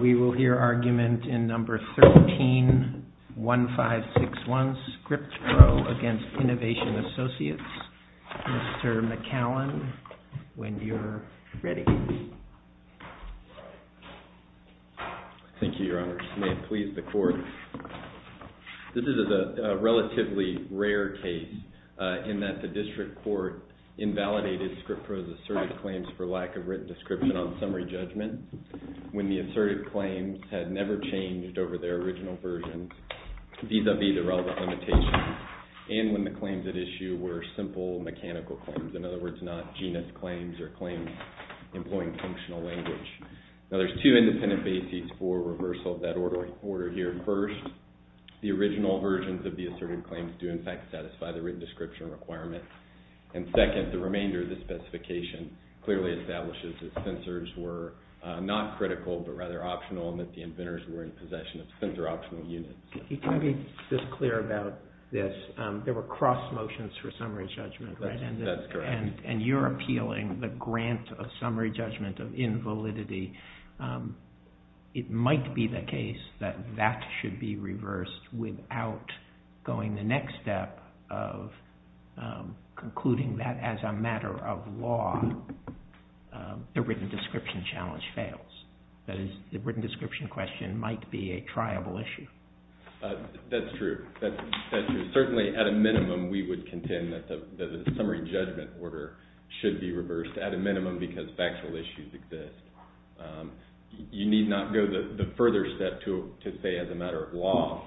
We will hear argument in No. 13-1561, ScriptPro v. Innovation Associates. Mr. McAllen, when you're ready. Thank you, Your Honors. May it please the Court. This is a relatively rare case in that the district court invalidated ScriptPro's assertive claims for lack of written description on summary judgment when the assertive claims had never changed over their original versions vis-à-vis the relevant limitations and when the claims at issue were simple mechanical claims, in other words, not genus claims or claims employing functional language. Now, there's two independent bases for reversal of that order here. First, the original versions of the assertive claims do, in fact, satisfy the written description requirement. And second, the remainder of the specification clearly establishes that censors were not critical but rather optional and that the inventors were in possession of censor-optional units. If you can be just clear about this, there were cross motions for summary judgment, right? That's correct. And you're appealing the grant of summary judgment of invalidity. It might be the case that that should be reversed without going the next step of concluding that as a matter of law, the written description challenge fails. That is, the written description question might be a triable issue. That's true. Certainly, at a minimum, we would contend that the summary judgment order should be reversed at a minimum because factual issues exist. You need not go the further step to say as a matter of law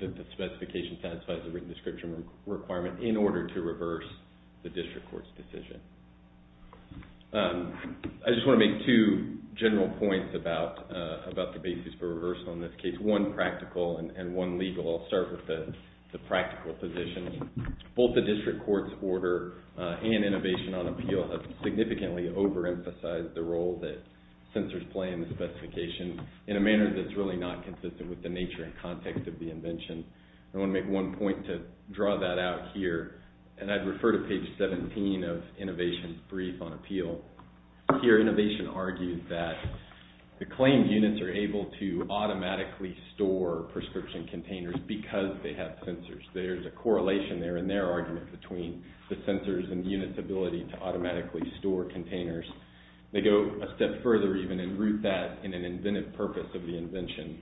that the specification satisfies the written description requirement in order to reverse the district court's decision. I just want to make two general points about the basis for reversal in this case, one practical and one legal. I'll start with the practical position. Both the district court's order and innovation on appeal have significantly overemphasized the role that censors play in the specification in a manner that's really not consistent with the nature and context of the invention. I want to make one point to draw that out here, and I'd refer to page 17 of innovation's brief on appeal. Here, innovation argues that the claimed units are able to automatically store prescription containers because they have censors. There's a correlation there in their argument between the censors and the unit's ability to automatically store containers. They go a step further even and root that in an inventive purpose of the invention.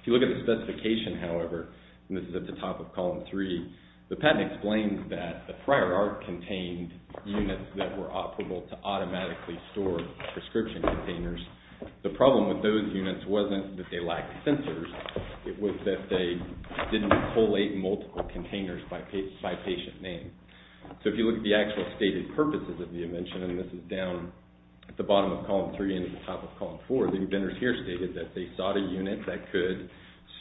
If you look at the specification, however, and this is at the top of column 3, the patent explains that the prior art contained units that were operable to automatically store prescription containers. The problem with those units wasn't that they lacked censors. It was that they didn't collate multiple containers by patient name. So if you look at the actual stated purposes of the invention, and this is down at the bottom of column 3 and at the top of column 4, the inventors here stated that they sought a unit that could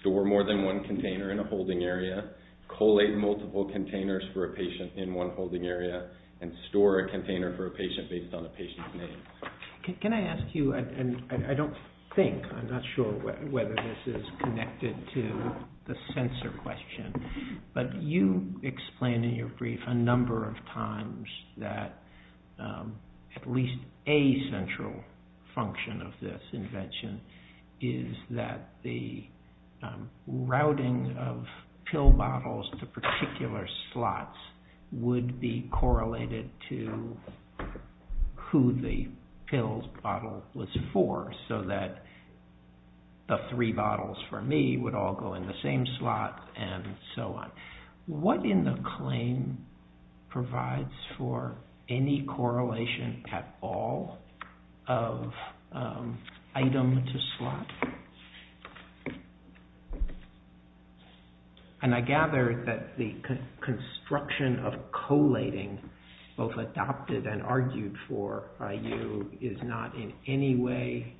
store more than one container in a holding area, collate multiple containers for a patient in one holding area, and store a container for a patient based on a patient's name. Can I ask you, and I don't think, I'm not sure whether this is connected to the censor question, but you explain in your brief a number of times that at least a central function of this invention is that the routing of pill bottles to particular slots would be correlated to who the pill bottle was for, so that the three bottles for me would all go in the same slot, and so on. What in the claim provides for any correlation at all of item to slot? And I gather that the construction of collating, both adopted and argued for by you, is not in any way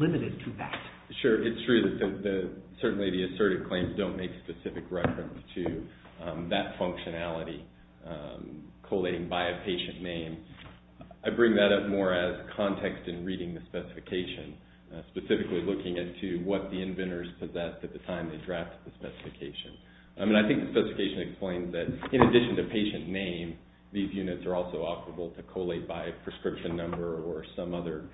limited to that. Sure, it's true that certainly the assertive claims don't make specific reference to that functionality, collating by a patient name. I bring that up more as context in reading the specification, specifically looking into what the inventors possessed at the time they drafted the specification. And I think the specification explains that in addition to patient name, these units are also operable to collate by a prescription number or some other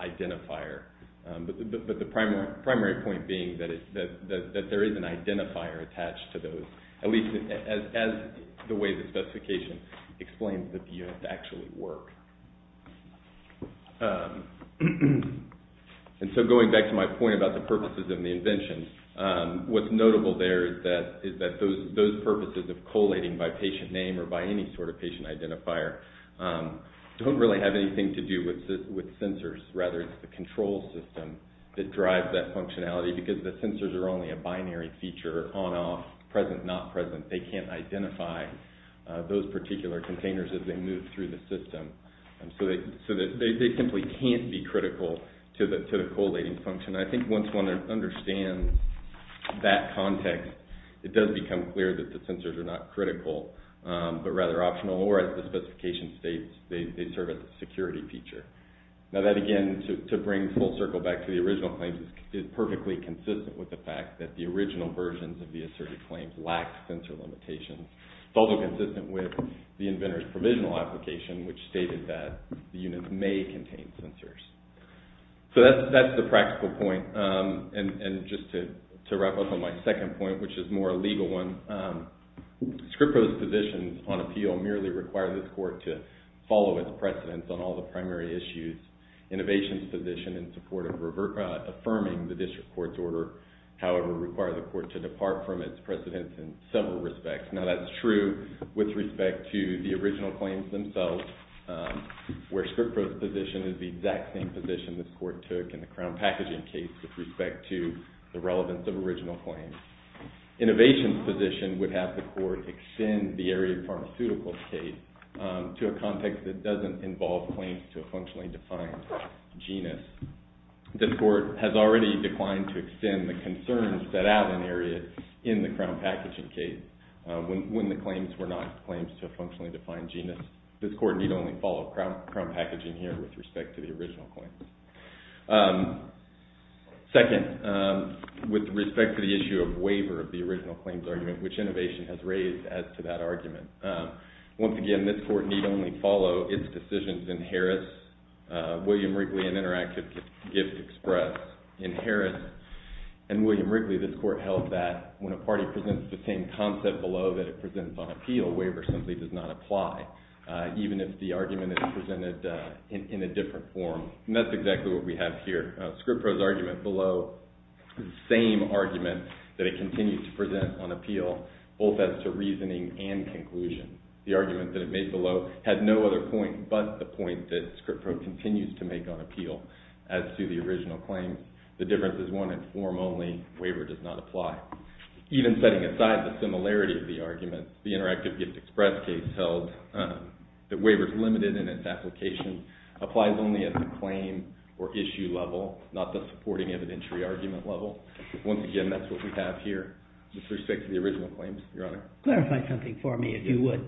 identifier. But the primary point being that there is an identifier attached to those, at least as the way the specification explains that the units actually work. And so going back to my point about the purposes of the invention, what's notable there is that those purposes of collating by patient name or by any sort of patient identifier don't really have anything to do with sensors, rather it's the control system that drives that functionality, because the sensors are only a binary feature, on, off, present, not present. They can't identify those particular containers as they move through the system. So they simply can't be critical to the collating function. I think once one understands that context, it does become clear that the sensors are not critical, but rather optional, or as the specification states, they serve as a security feature. Now that again, to bring full circle back to the original claims, is perfectly consistent with the fact that the original versions of the asserted claims lacked sensor limitations. It's also consistent with the inventor's provisional application, which stated that the units may contain sensors. So that's the practical point. And just to wrap up on my second point, which is more a legal one, Scrippro's positions on appeal merely require this court to follow its precedents on all the primary issues. Innovations' position in support of affirming the district court's order, however, require the court to depart from its precedents in several respects. Now that's true with respect to the original claims themselves, where Scrippro's position is the exact same position this court took in the crown packaging case with respect to the relevance of original claims. Innovations' position would have the court extend the area of pharmaceuticals case to a context that doesn't involve claims to a functionally defined genus. This court has already declined to extend the concerns set out in the area in the crown packaging case when the claims were not claims to a functionally defined genus. This court need only follow crown packaging here with respect to the original claims. Second, with respect to the issue of waiver of the original claims argument, which Innovation has raised as to that argument. Once again, this court need only follow its decisions in Harris, William Wrigley, and Interactive Gift Express. In Harris and William Wrigley, this court held that when a party presents the same concept below that it presents on appeal, waiver simply does not apply, even if the argument is presented in a different form. And that's exactly what we have here. ScriptPro's argument below is the same argument that it continues to present on appeal, both as to reasoning and conclusion. The argument that it made below had no other point but the point that ScriptPro continues to make on appeal as to the original claim. The difference is one in form only. Waiver does not apply. Even setting aside the similarity of the argument, the Interactive Gift Express case held that waiver is limited in its application and applies only at the claim or issue level, not the supporting evidentiary argument level. Once again, that's what we have here with respect to the original claims. Your Honor? Clarify something for me, if you would.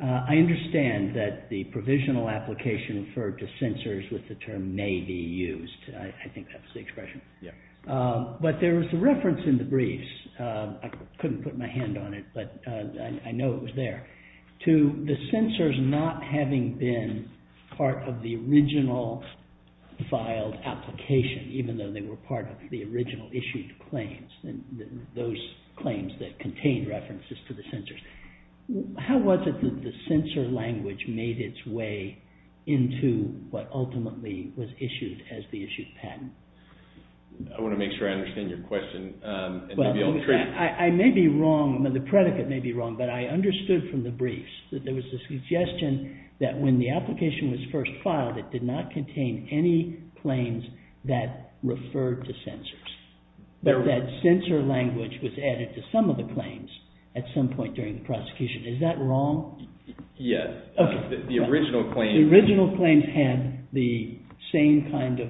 I understand that the provisional application referred to censors with the term may be used. I think that's the expression. But there was a reference in the briefs. I couldn't put my hand on it, but I know it was there. To the censors not having been part of the original filed application, even though they were part of the original issued claims, those claims that contained references to the censors, how was it that the censor language made its way into what ultimately was issued as the issued patent? I want to make sure I understand your question. I may be wrong. The predicate may be wrong, but I understood from the briefs that there was a suggestion that when the application was first filed, it did not contain any claims that referred to censors, but that censor language was added to some of the claims at some point during the prosecution. Is that wrong? Yes. The original claims had the same kind of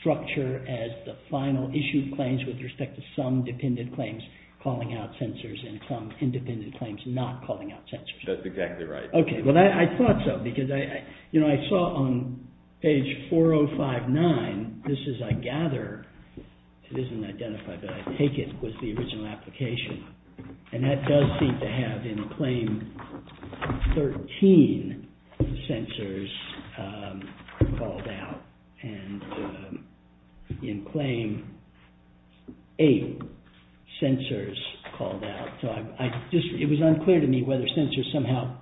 structure as the final issued claims with respect to some dependent claims calling out censors and some independent claims not calling out censors. That's exactly right. Okay. Well, I thought so, because I saw on page 4059, this is, I gather, it isn't identified, but I take it was the original application. And that does seem to have in claim 13, censors called out. And in claim 8, censors called out. It was unclear to me whether censors somehow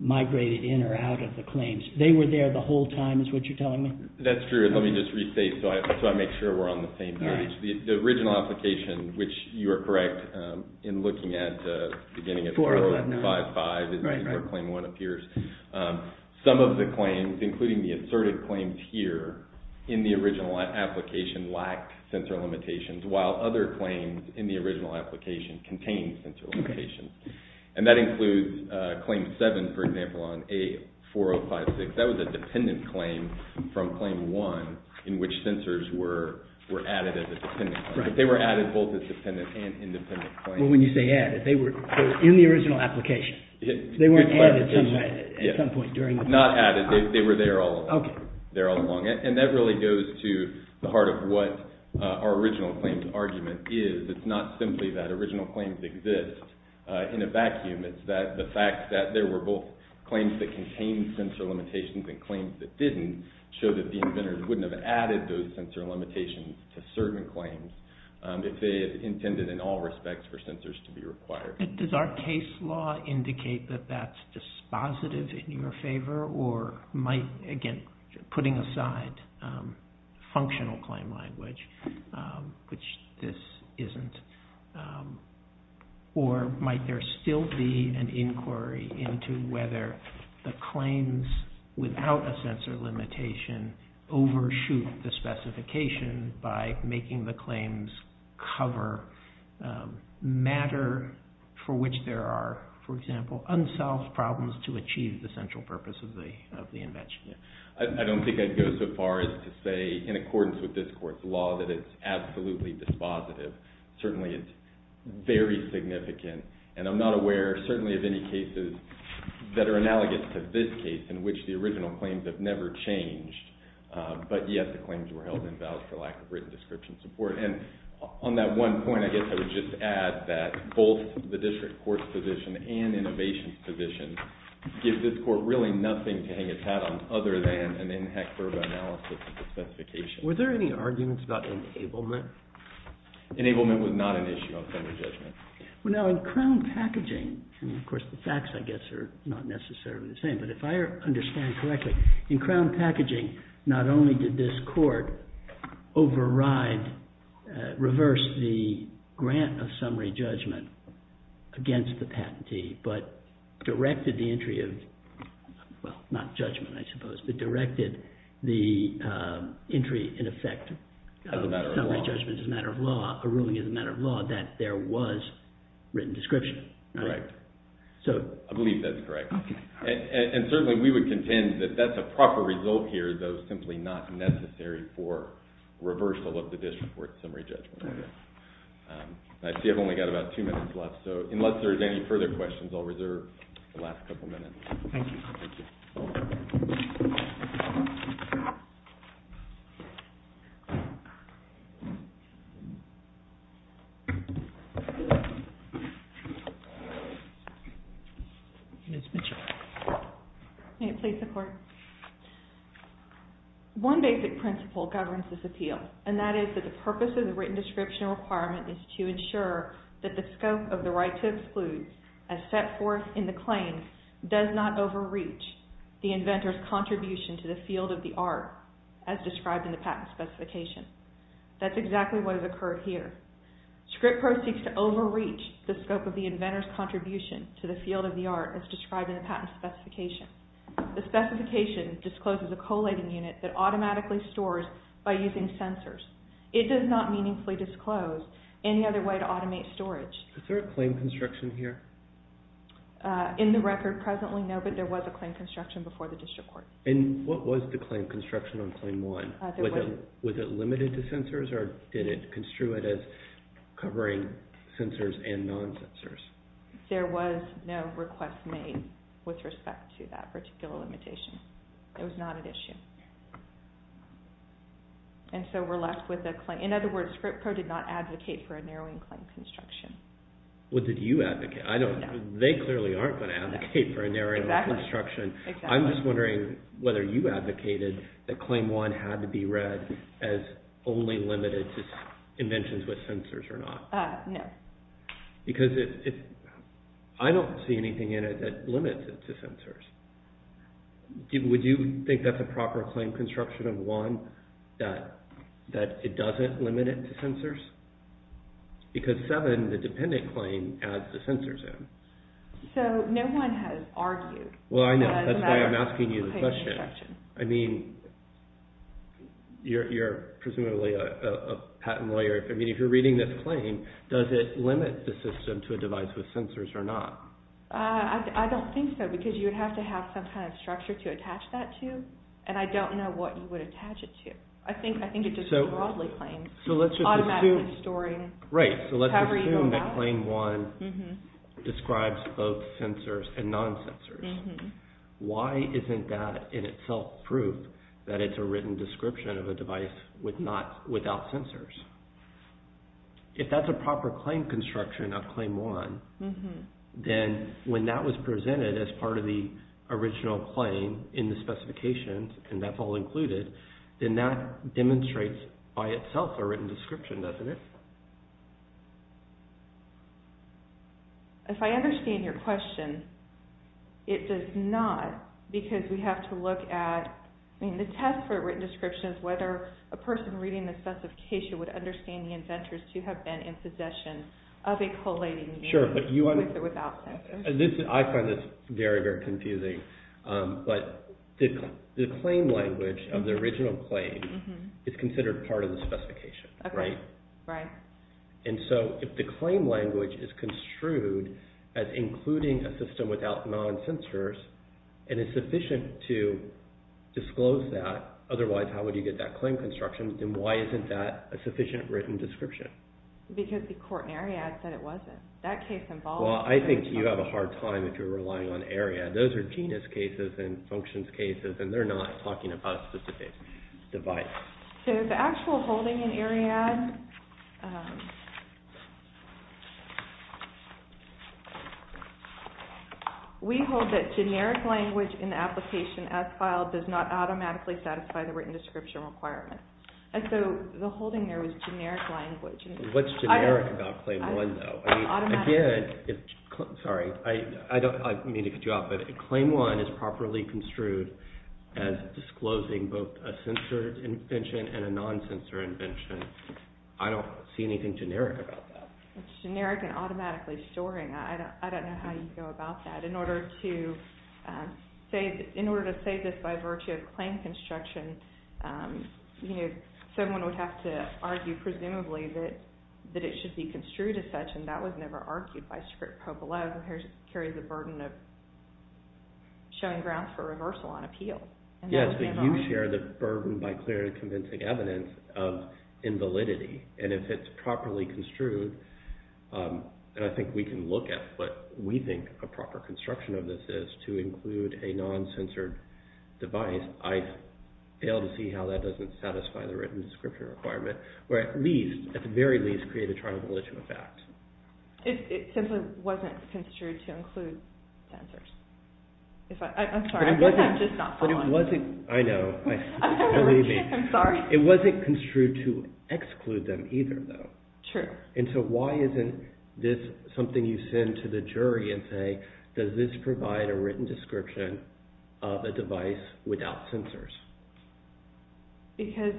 migrated in or out of the claims. They were there the whole time is what you're telling me? That's true. Let me just restate so I make sure we're on the same page. The original application, which you are correct, in looking at the beginning of 4055, this is where claim 1 appears. Some of the claims, including the asserted claims here, in the original application lacked censor limitations, while other claims in the original application contained censor limitations. And that includes claim 7, for example, on A4056. That was a dependent claim from claim 1 in which censors were added as a dependent claim. But they were added both as dependent and independent claims. For example, when you say added, they were in the original application. They weren't added at some point during the process. Not added. They were there all along. And that really goes to the heart of what our original claims argument is. It's not simply that original claims exist in a vacuum. It's the fact that there were both claims that contained censor limitations and claims that didn't show that the inventors wouldn't have added those censor limitations to certain claims if they intended in all respects for censors to be required. Does our case law indicate that that's dispositive in your favor, or might, again, putting aside functional claim language, which this isn't, or might there still be an inquiry into whether the claims without a censor limitation can overshoot the specification by making the claims cover matter for which there are, for example, unsolved problems to achieve the central purpose of the invention? I don't think I'd go so far as to say in accordance with this court's law that it's absolutely dispositive. Certainly it's very significant. And I'm not aware certainly of any cases that are analogous to this case in which the original claims have never changed, but yet the claims were held invalid for lack of written description support. And on that one point, I guess I would just add that both the district court's position and innovation's position gives this court really nothing to hang its hat on other than an in-hector analysis of the specification. Were there any arguments about enablement? Enablement was not an issue on summary judgment. Now, in crown packaging, I mean, of course, the facts, I guess, are not necessarily the same, but if I understand correctly, in crown packaging, not only did this court reverse the grant of summary judgment against the patentee, but directed the entry of, well, not judgment, I suppose, but directed the entry in effect of summary judgment as a matter of law, a ruling as a matter of law, that there was written description. Right. I believe that's correct. And certainly we would contend that that's a proper result here, though simply not necessary for reversal of the district court's summary judgment. I see I've only got about two minutes left, so unless there's any further questions, I'll reserve the last couple minutes. Thank you. Thank you. Ms. Mitchell. May it please the Court? One basic principle governs this appeal, and that is that the purpose of the written description requirement is to ensure that the scope of the right to exclude as set forth in the claim does not overreach the inventor's contribution to the field of the art as described in the patent specification. That's exactly what has occurred here. Script Pro seeks to overreach the scope of the inventor's contribution to the field of the art as described in the patent specification. The specification discloses a collating unit that automatically stores by using sensors. It does not meaningfully disclose any other way to automate storage. Is there a claim construction here? In the record presently, no, but there was a claim construction before the district court. And what was the claim construction on Claim 1? Was it limited to sensors or did it construe it as covering sensors and non-sensors? There was no request made with respect to that particular limitation. It was not an issue. And so we're left with a claim. In other words, Script Pro did not advocate for a narrowing claim construction. What did you advocate? They clearly aren't going to advocate for a narrowing claim construction. I'm just wondering whether you advocated that Claim 1 had to be read as only limited to inventions with sensors or not. No. Because I don't see anything in it that limits it to sensors. Would you think that's a proper claim construction of 1, that it doesn't limit it to sensors? Because 7, the dependent claim, adds the sensors in. So no one has argued. Well, I know. That's why I'm asking you the question. I mean, you're presumably a patent lawyer. I mean, if you're reading this claim, does it limit the system to a device with sensors or not? I don't think so because you would have to have some kind of structure to attach that to, and I don't know what you would attach it to. I think it just broadly claims. So let's just assume that Claim 1 describes both sensors and non-sensors. Why isn't that in itself proof that it's a written description of a device without sensors? If that's a proper claim construction of Claim 1, then when that was presented as part of the original claim in the specifications, and that's all included, then that demonstrates by itself a written description, doesn't it? If I understand your question, it does not because we have to look at, I mean, the test for a written description is whether a person reading the specification would understand the inventors to have been in possession of a collating device with or without sensors. I find this very, very confusing. But the claim language of the original claim is considered part of the specification, right? Right. And so if the claim language is construed as including a system without non-sensors, and it's sufficient to disclose that, otherwise how would you get that claim construction, then why isn't that a sufficient written description? Because the court in Ariadne said it wasn't. Well, I think you have a hard time if you're relying on Ariadne. Those are genus cases and functions cases and they're not talking about a specific device. So the actual holding in Ariadne, we hold that generic language in the application as filed does not automatically satisfy the written description requirement. And so the holding there was generic language. What's generic about Claim 1, though? Sorry, I don't mean to cut you off, but Claim 1 is properly construed as disclosing both a censored invention and a non-censored invention. I don't see anything generic about that. It's generic and automatically storing. I don't know how you go about that. In order to say this by virtue of claim construction, someone would have to argue presumably that it should be construed as such and that was never argued by Scripp-Popolov, who carries the burden of showing grounds for reversal on appeal. Yes, but you share the burden by clearly convincing evidence of invalidity. And if it's properly construed, and I think we can look at what we think a proper construction of this is to include a non-censored device, I fail to see how that doesn't satisfy the written description requirement, or at the very least create a tribological effect. It simply wasn't construed to include censors. I'm sorry, I'm just not following. I know. I'm sorry. It wasn't construed to exclude them either, though. True. And so why isn't this something you send to the jury and say, does this provide a written description of a device without censors? Because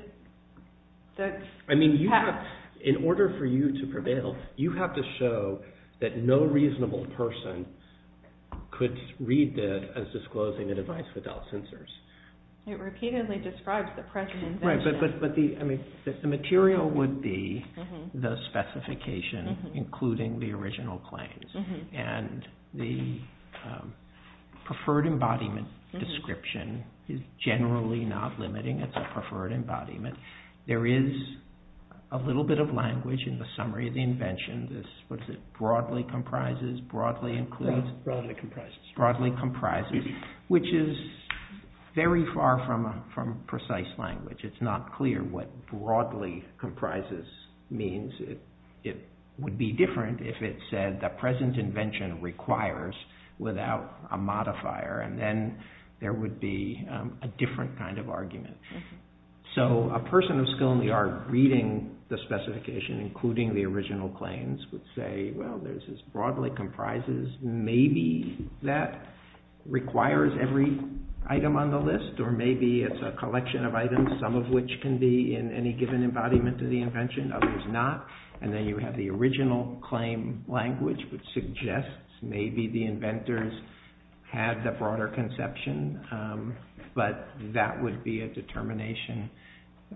that's… I mean, in order for you to prevail, you have to show that no reasonable person could read that as disclosing a device without censors. It repeatedly describes the present invention. Right, but the material would be the specification, including the original claims, and the preferred embodiment description is generally not limiting. It's a preferred embodiment. There is a little bit of language in the summary of the invention. What is it, broadly comprises, broadly includes? Broadly comprises. Broadly comprises, which is very far from precise language. It's not clear what broadly comprises means. It would be different if it said the present invention requires without a modifier, and then there would be a different kind of argument. So a person of skill in the art reading the specification, including the original claims, would say, well, this is broadly comprises. Maybe that requires every item on the list, or maybe it's a collection of items, some of which can be in any given embodiment of the invention, others not, and then you have the original claim language, which suggests maybe the inventors had the broader conception, but that would be a determination,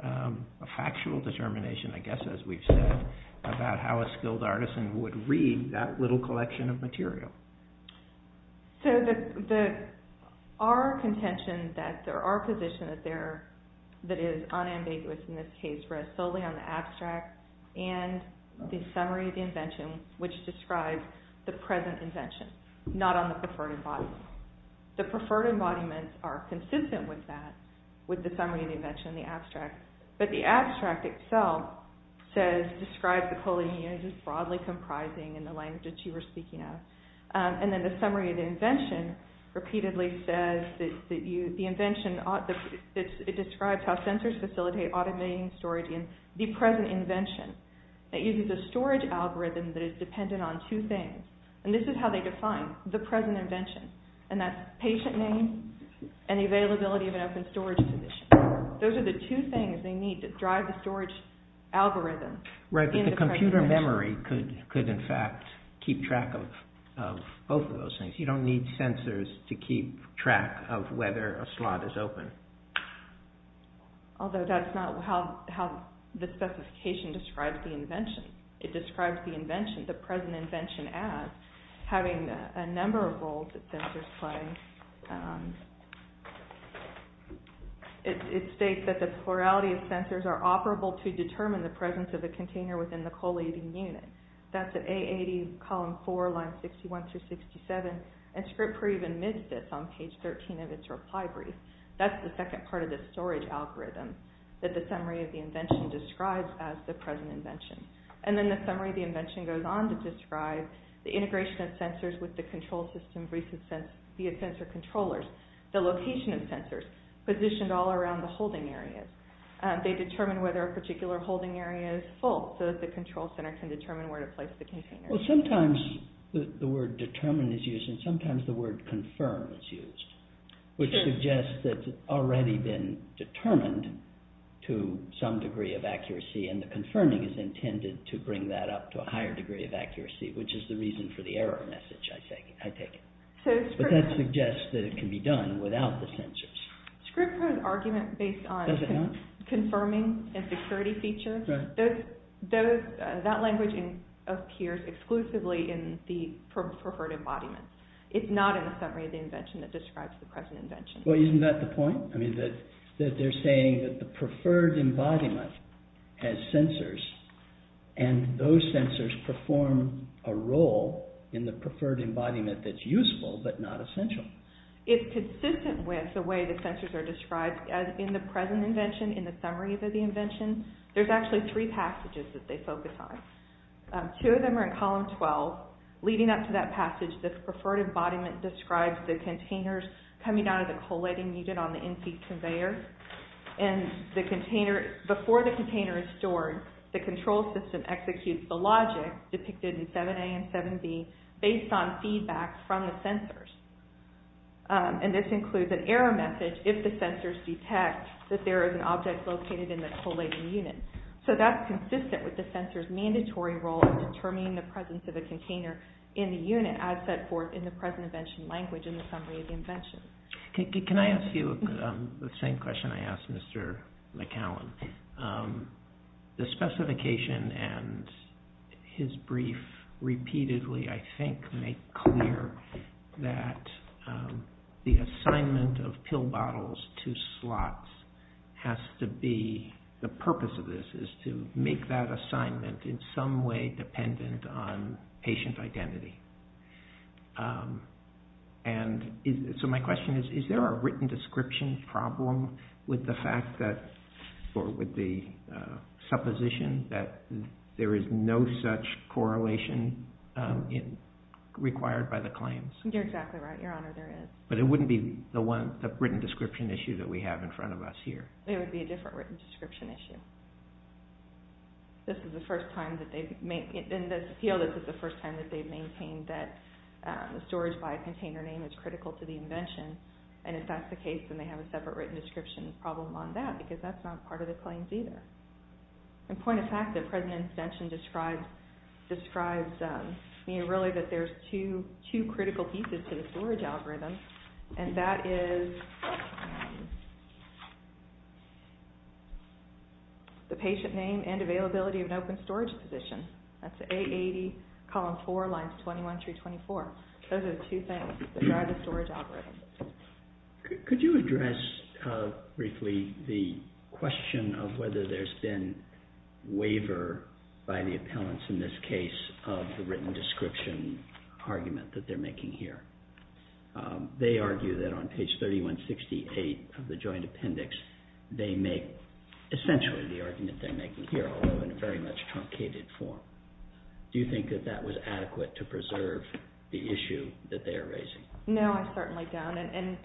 a factual determination, I guess, as we've said, about how a skilled artisan would read that little collection of material. So there are contentions that there are positions that is unambiguous, in this case, where it's solely on the abstract and the summary of the invention, which describes the present invention, not on the preferred embodiment. The preferred embodiments are consistent with that, with the summary of the invention and the abstract, but the abstract itself says, describes the collating units as broadly comprising in the language that you were speaking of, and then the summary of the invention repeatedly says, the invention describes how sensors facilitate automating storage in the present invention. It uses a storage algorithm that is dependent on two things, and this is how they define the present invention, and that's patient name and the availability of an open storage position. Those are the two things they need to drive the storage algorithm. Right, but the computer memory could, in fact, keep track of both of those things. You don't need sensors to keep track of whether a slot is open. Although that's not how the specification describes the invention. It describes the invention, the present invention, as having a number of roles that sensors play. It states that the plurality of sensors are operable to determine the presence of the container within the collating unit. That's at A80, column 4, lines 61 through 67, and Scripp-Reeve admits this on page 13 of its reply brief. That's the second part of the storage algorithm that the summary of the invention describes as the present invention. And then the summary of the invention goes on to describe the integration of sensors with the control system via sensor controllers, the location of sensors positioned all around the holding areas. They determine whether a particular holding area is full so that the control center can determine where to place the container. Well, sometimes the word determine is used and sometimes the word confirm is used, which suggests that it's already been determined to some degree of accuracy, and the confirming is intended to bring that up to a higher degree of accuracy, which is the reason for the error message, I take it. But that suggests that it can be done without the sensors. Scripp wrote an argument based on confirming and security features. That language appears exclusively in the preferred embodiment. It's not in the summary of the invention that describes the present invention. Well, isn't that the point? That they're saying that the preferred embodiment has sensors and those sensors perform a role in the preferred embodiment that's useful but not essential. It's consistent with the way the sensors are described in the present invention, in the summary of the invention. There's actually three passages that they focus on. Two of them are in column 12. Leading up to that passage, the preferred embodiment describes the containers coming out of the collating unit on the NC conveyor. And before the container is stored, the control system executes the logic depicted in 7A and 7B based on feedback from the sensors. And this includes an error message if the sensors detect that there is an object located in the collating unit. So that's consistent with the sensors' mandatory role of determining the presence of a container in the unit as set forth in the present invention language in the summary of the invention. Can I ask you the same question I asked Mr. McCallum? The specification and his brief repeatedly, I think, make clear that the assignment of pill bottles to slots has to be, the purpose of this is to make that assignment in some way dependent on patient identity. So my question is, is there a written description problem with the fact that, or with the supposition that there is no such correlation required by the claims? You're exactly right, Your Honor, there is. But it wouldn't be the written description issue that we have in front of us here. It would be a different written description issue. This is the first time that they've maintained that the storage by a container name is critical to the invention. And if that's the case, then they have a separate written description problem on that because that's not part of the claims either. And point of fact, the present invention describes really that there's two critical pieces to the storage algorithm, and that is the patient name and availability of an open storage position. That's A80, column 4, lines 21 through 24. Those are the two things that drive the storage algorithm. Could you address briefly the question of whether there's been waiver by the appellants in this case of the written description argument that they're making here? They argue that on page 3168 of the joint appendix, they make essentially the argument they're making here, although in a very much truncated form. Do you think that that was adequate to preserve the issue that they are raising? No, I certainly don't. And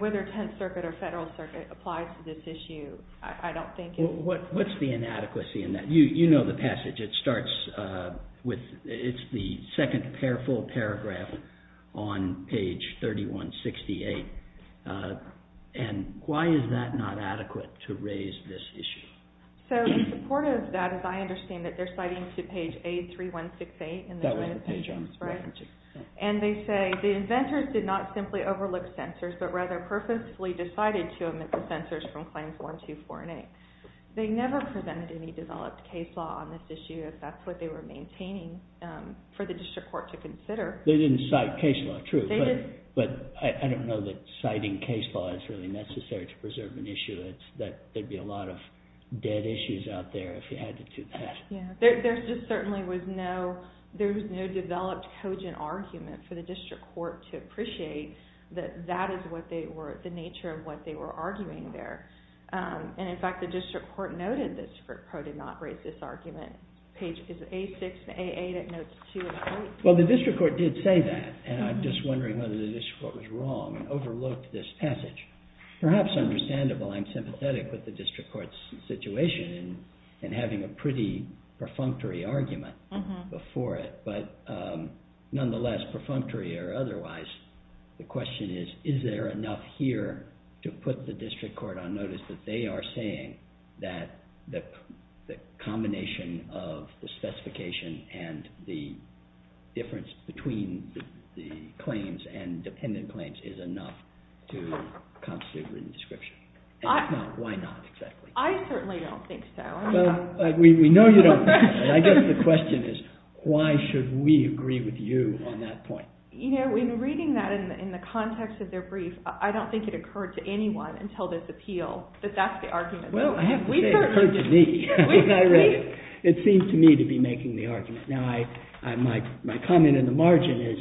whether Tenth Circuit or Federal Circuit applies to this issue, I don't think it... What's the inadequacy in that? You know the passage. It starts with... It's the second full paragraph on page 3168. And why is that not adequate to raise this issue? In support of that, as I understand it, they're citing to page A3168 in the joint appendix. That was the page on page 3168. And they say the inventors did not simply overlook censors, but rather purposefully decided to omit the censors from claims 1, 2, 4, and 8. They never presented any developed case law on this issue if that's what they were maintaining for the district court to consider. They didn't cite case law, true. But I don't know that citing case law is really necessary to preserve an issue. There'd be a lot of dead issues out there if you had to do that. There just certainly was no... There was no developed cogent argument for the district court to appreciate that that is what they were... the nature of what they were arguing there. And in fact, the district court noted that the district court did not raise this argument. Page A6 and A8, it notes 2 and 8. Well, the district court did say that. And I'm just wondering whether the district court was wrong and overlooked this passage. Perhaps understandable, I'm sympathetic with the district court's situation in having a pretty perfunctory argument before it. But nonetheless, perfunctory or otherwise, the question is, is there enough here to put the district court on notice that they are saying that the combination of the specification and the difference between the claims and dependent claims is enough to constitute reading the description? And if not, why not exactly? I certainly don't think so. We know you don't think so. I guess the question is, why should we agree with you on that point? You know, in reading that in the context of their brief, I don't think it occurred to anyone until this appeal that that's the argument. Well, I have to say it occurred to me. It seems to me to be making the argument. Now, my comment in the margin is,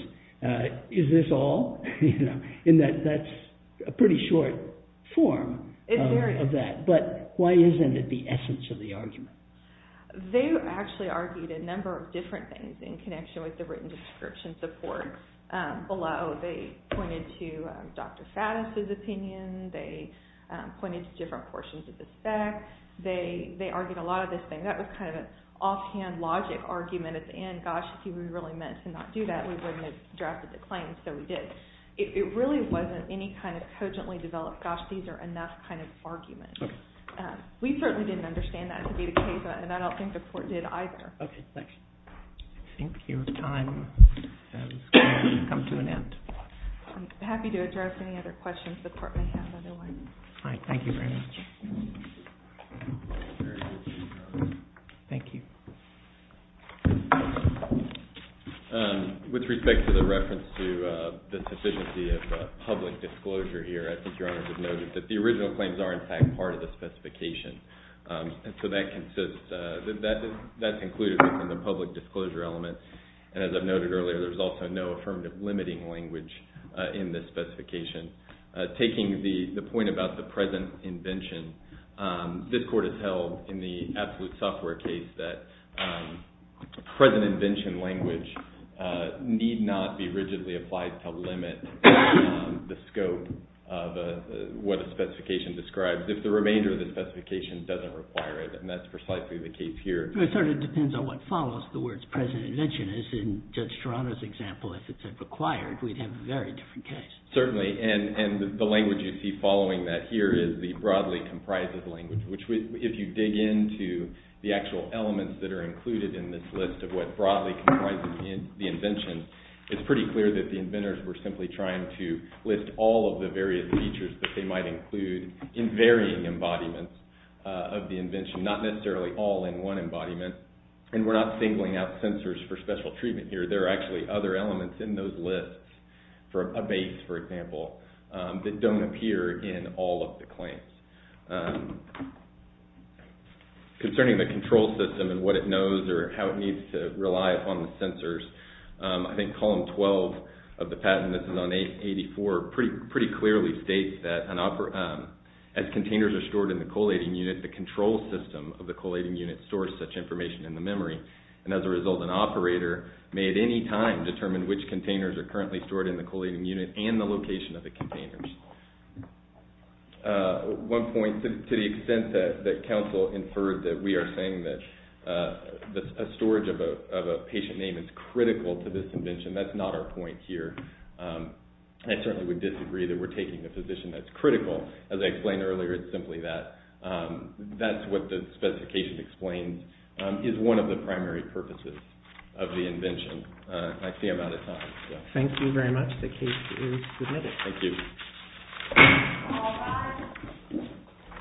is this all? And that's a pretty short form of that. But why isn't it the essence of the argument? They actually argued a number of different things in connection with the written description support. Below, they pointed to Dr. Faddis' opinion. They pointed to different portions of the spec. They argued a lot of this thing. That was kind of an offhand logic argument at the end. Gosh, if we really meant to not do that, we wouldn't have drafted the claim, so we did. It really wasn't any kind of cogently developed, gosh, these are enough kind of argument. We certainly didn't understand that to be the case, and I don't think the court did either. Okay, thanks. I think your time has come to an end. I'm happy to address any other questions the court may have otherwise. All right, thank you very much. Thank you. With respect to the reference to the sufficiency of public disclosure here, I think Your Honor should know that the original claims are in fact part of the specification. So that's included in the public disclosure element, and as I've noted earlier, there's also no affirmative limiting language in this specification. Taking the point about the present invention, this court has held in the absolute software case that present invention language need not be rigidly applied to limit the scope of what the specification describes. If the remainder of the specification doesn't require it, and that's precisely the case here. It sort of depends on what follows the words present invention. As in Judge Toronto's example, if it said required, we'd have a very different case. Certainly, and the language you see following that here is the broadly comprised language, which if you dig into the actual elements that are included in this list of what broadly comprises the invention, it's pretty clear that the inventors were simply trying to list all of the various features that they might include in varying embodiments of the invention, not necessarily all in one embodiment, and we're not singling out sensors for special treatment here. There are actually other elements in those lists, for a base, for example, that don't appear in all of the claims. Concerning the control system and what it knows or how it needs to rely upon the sensors, I think column 12 of the patent, and this is on 84, pretty clearly states that as containers are stored in the collating unit, the control system of the collating unit stores such information in the memory, and as a result, an operator may at any time determine which containers are currently stored in the collating unit and the location of the containers. One point, to the extent that council inferred that we are saying that a storage of a patient name is critical to this invention, and that's not our point here. I certainly would disagree that we're taking a physician that's critical. As I explained earlier, it's simply that. That's what the specification explains is one of the primary purposes of the invention. I see I'm out of time. Thank you very much. The case is submitted. Thank you.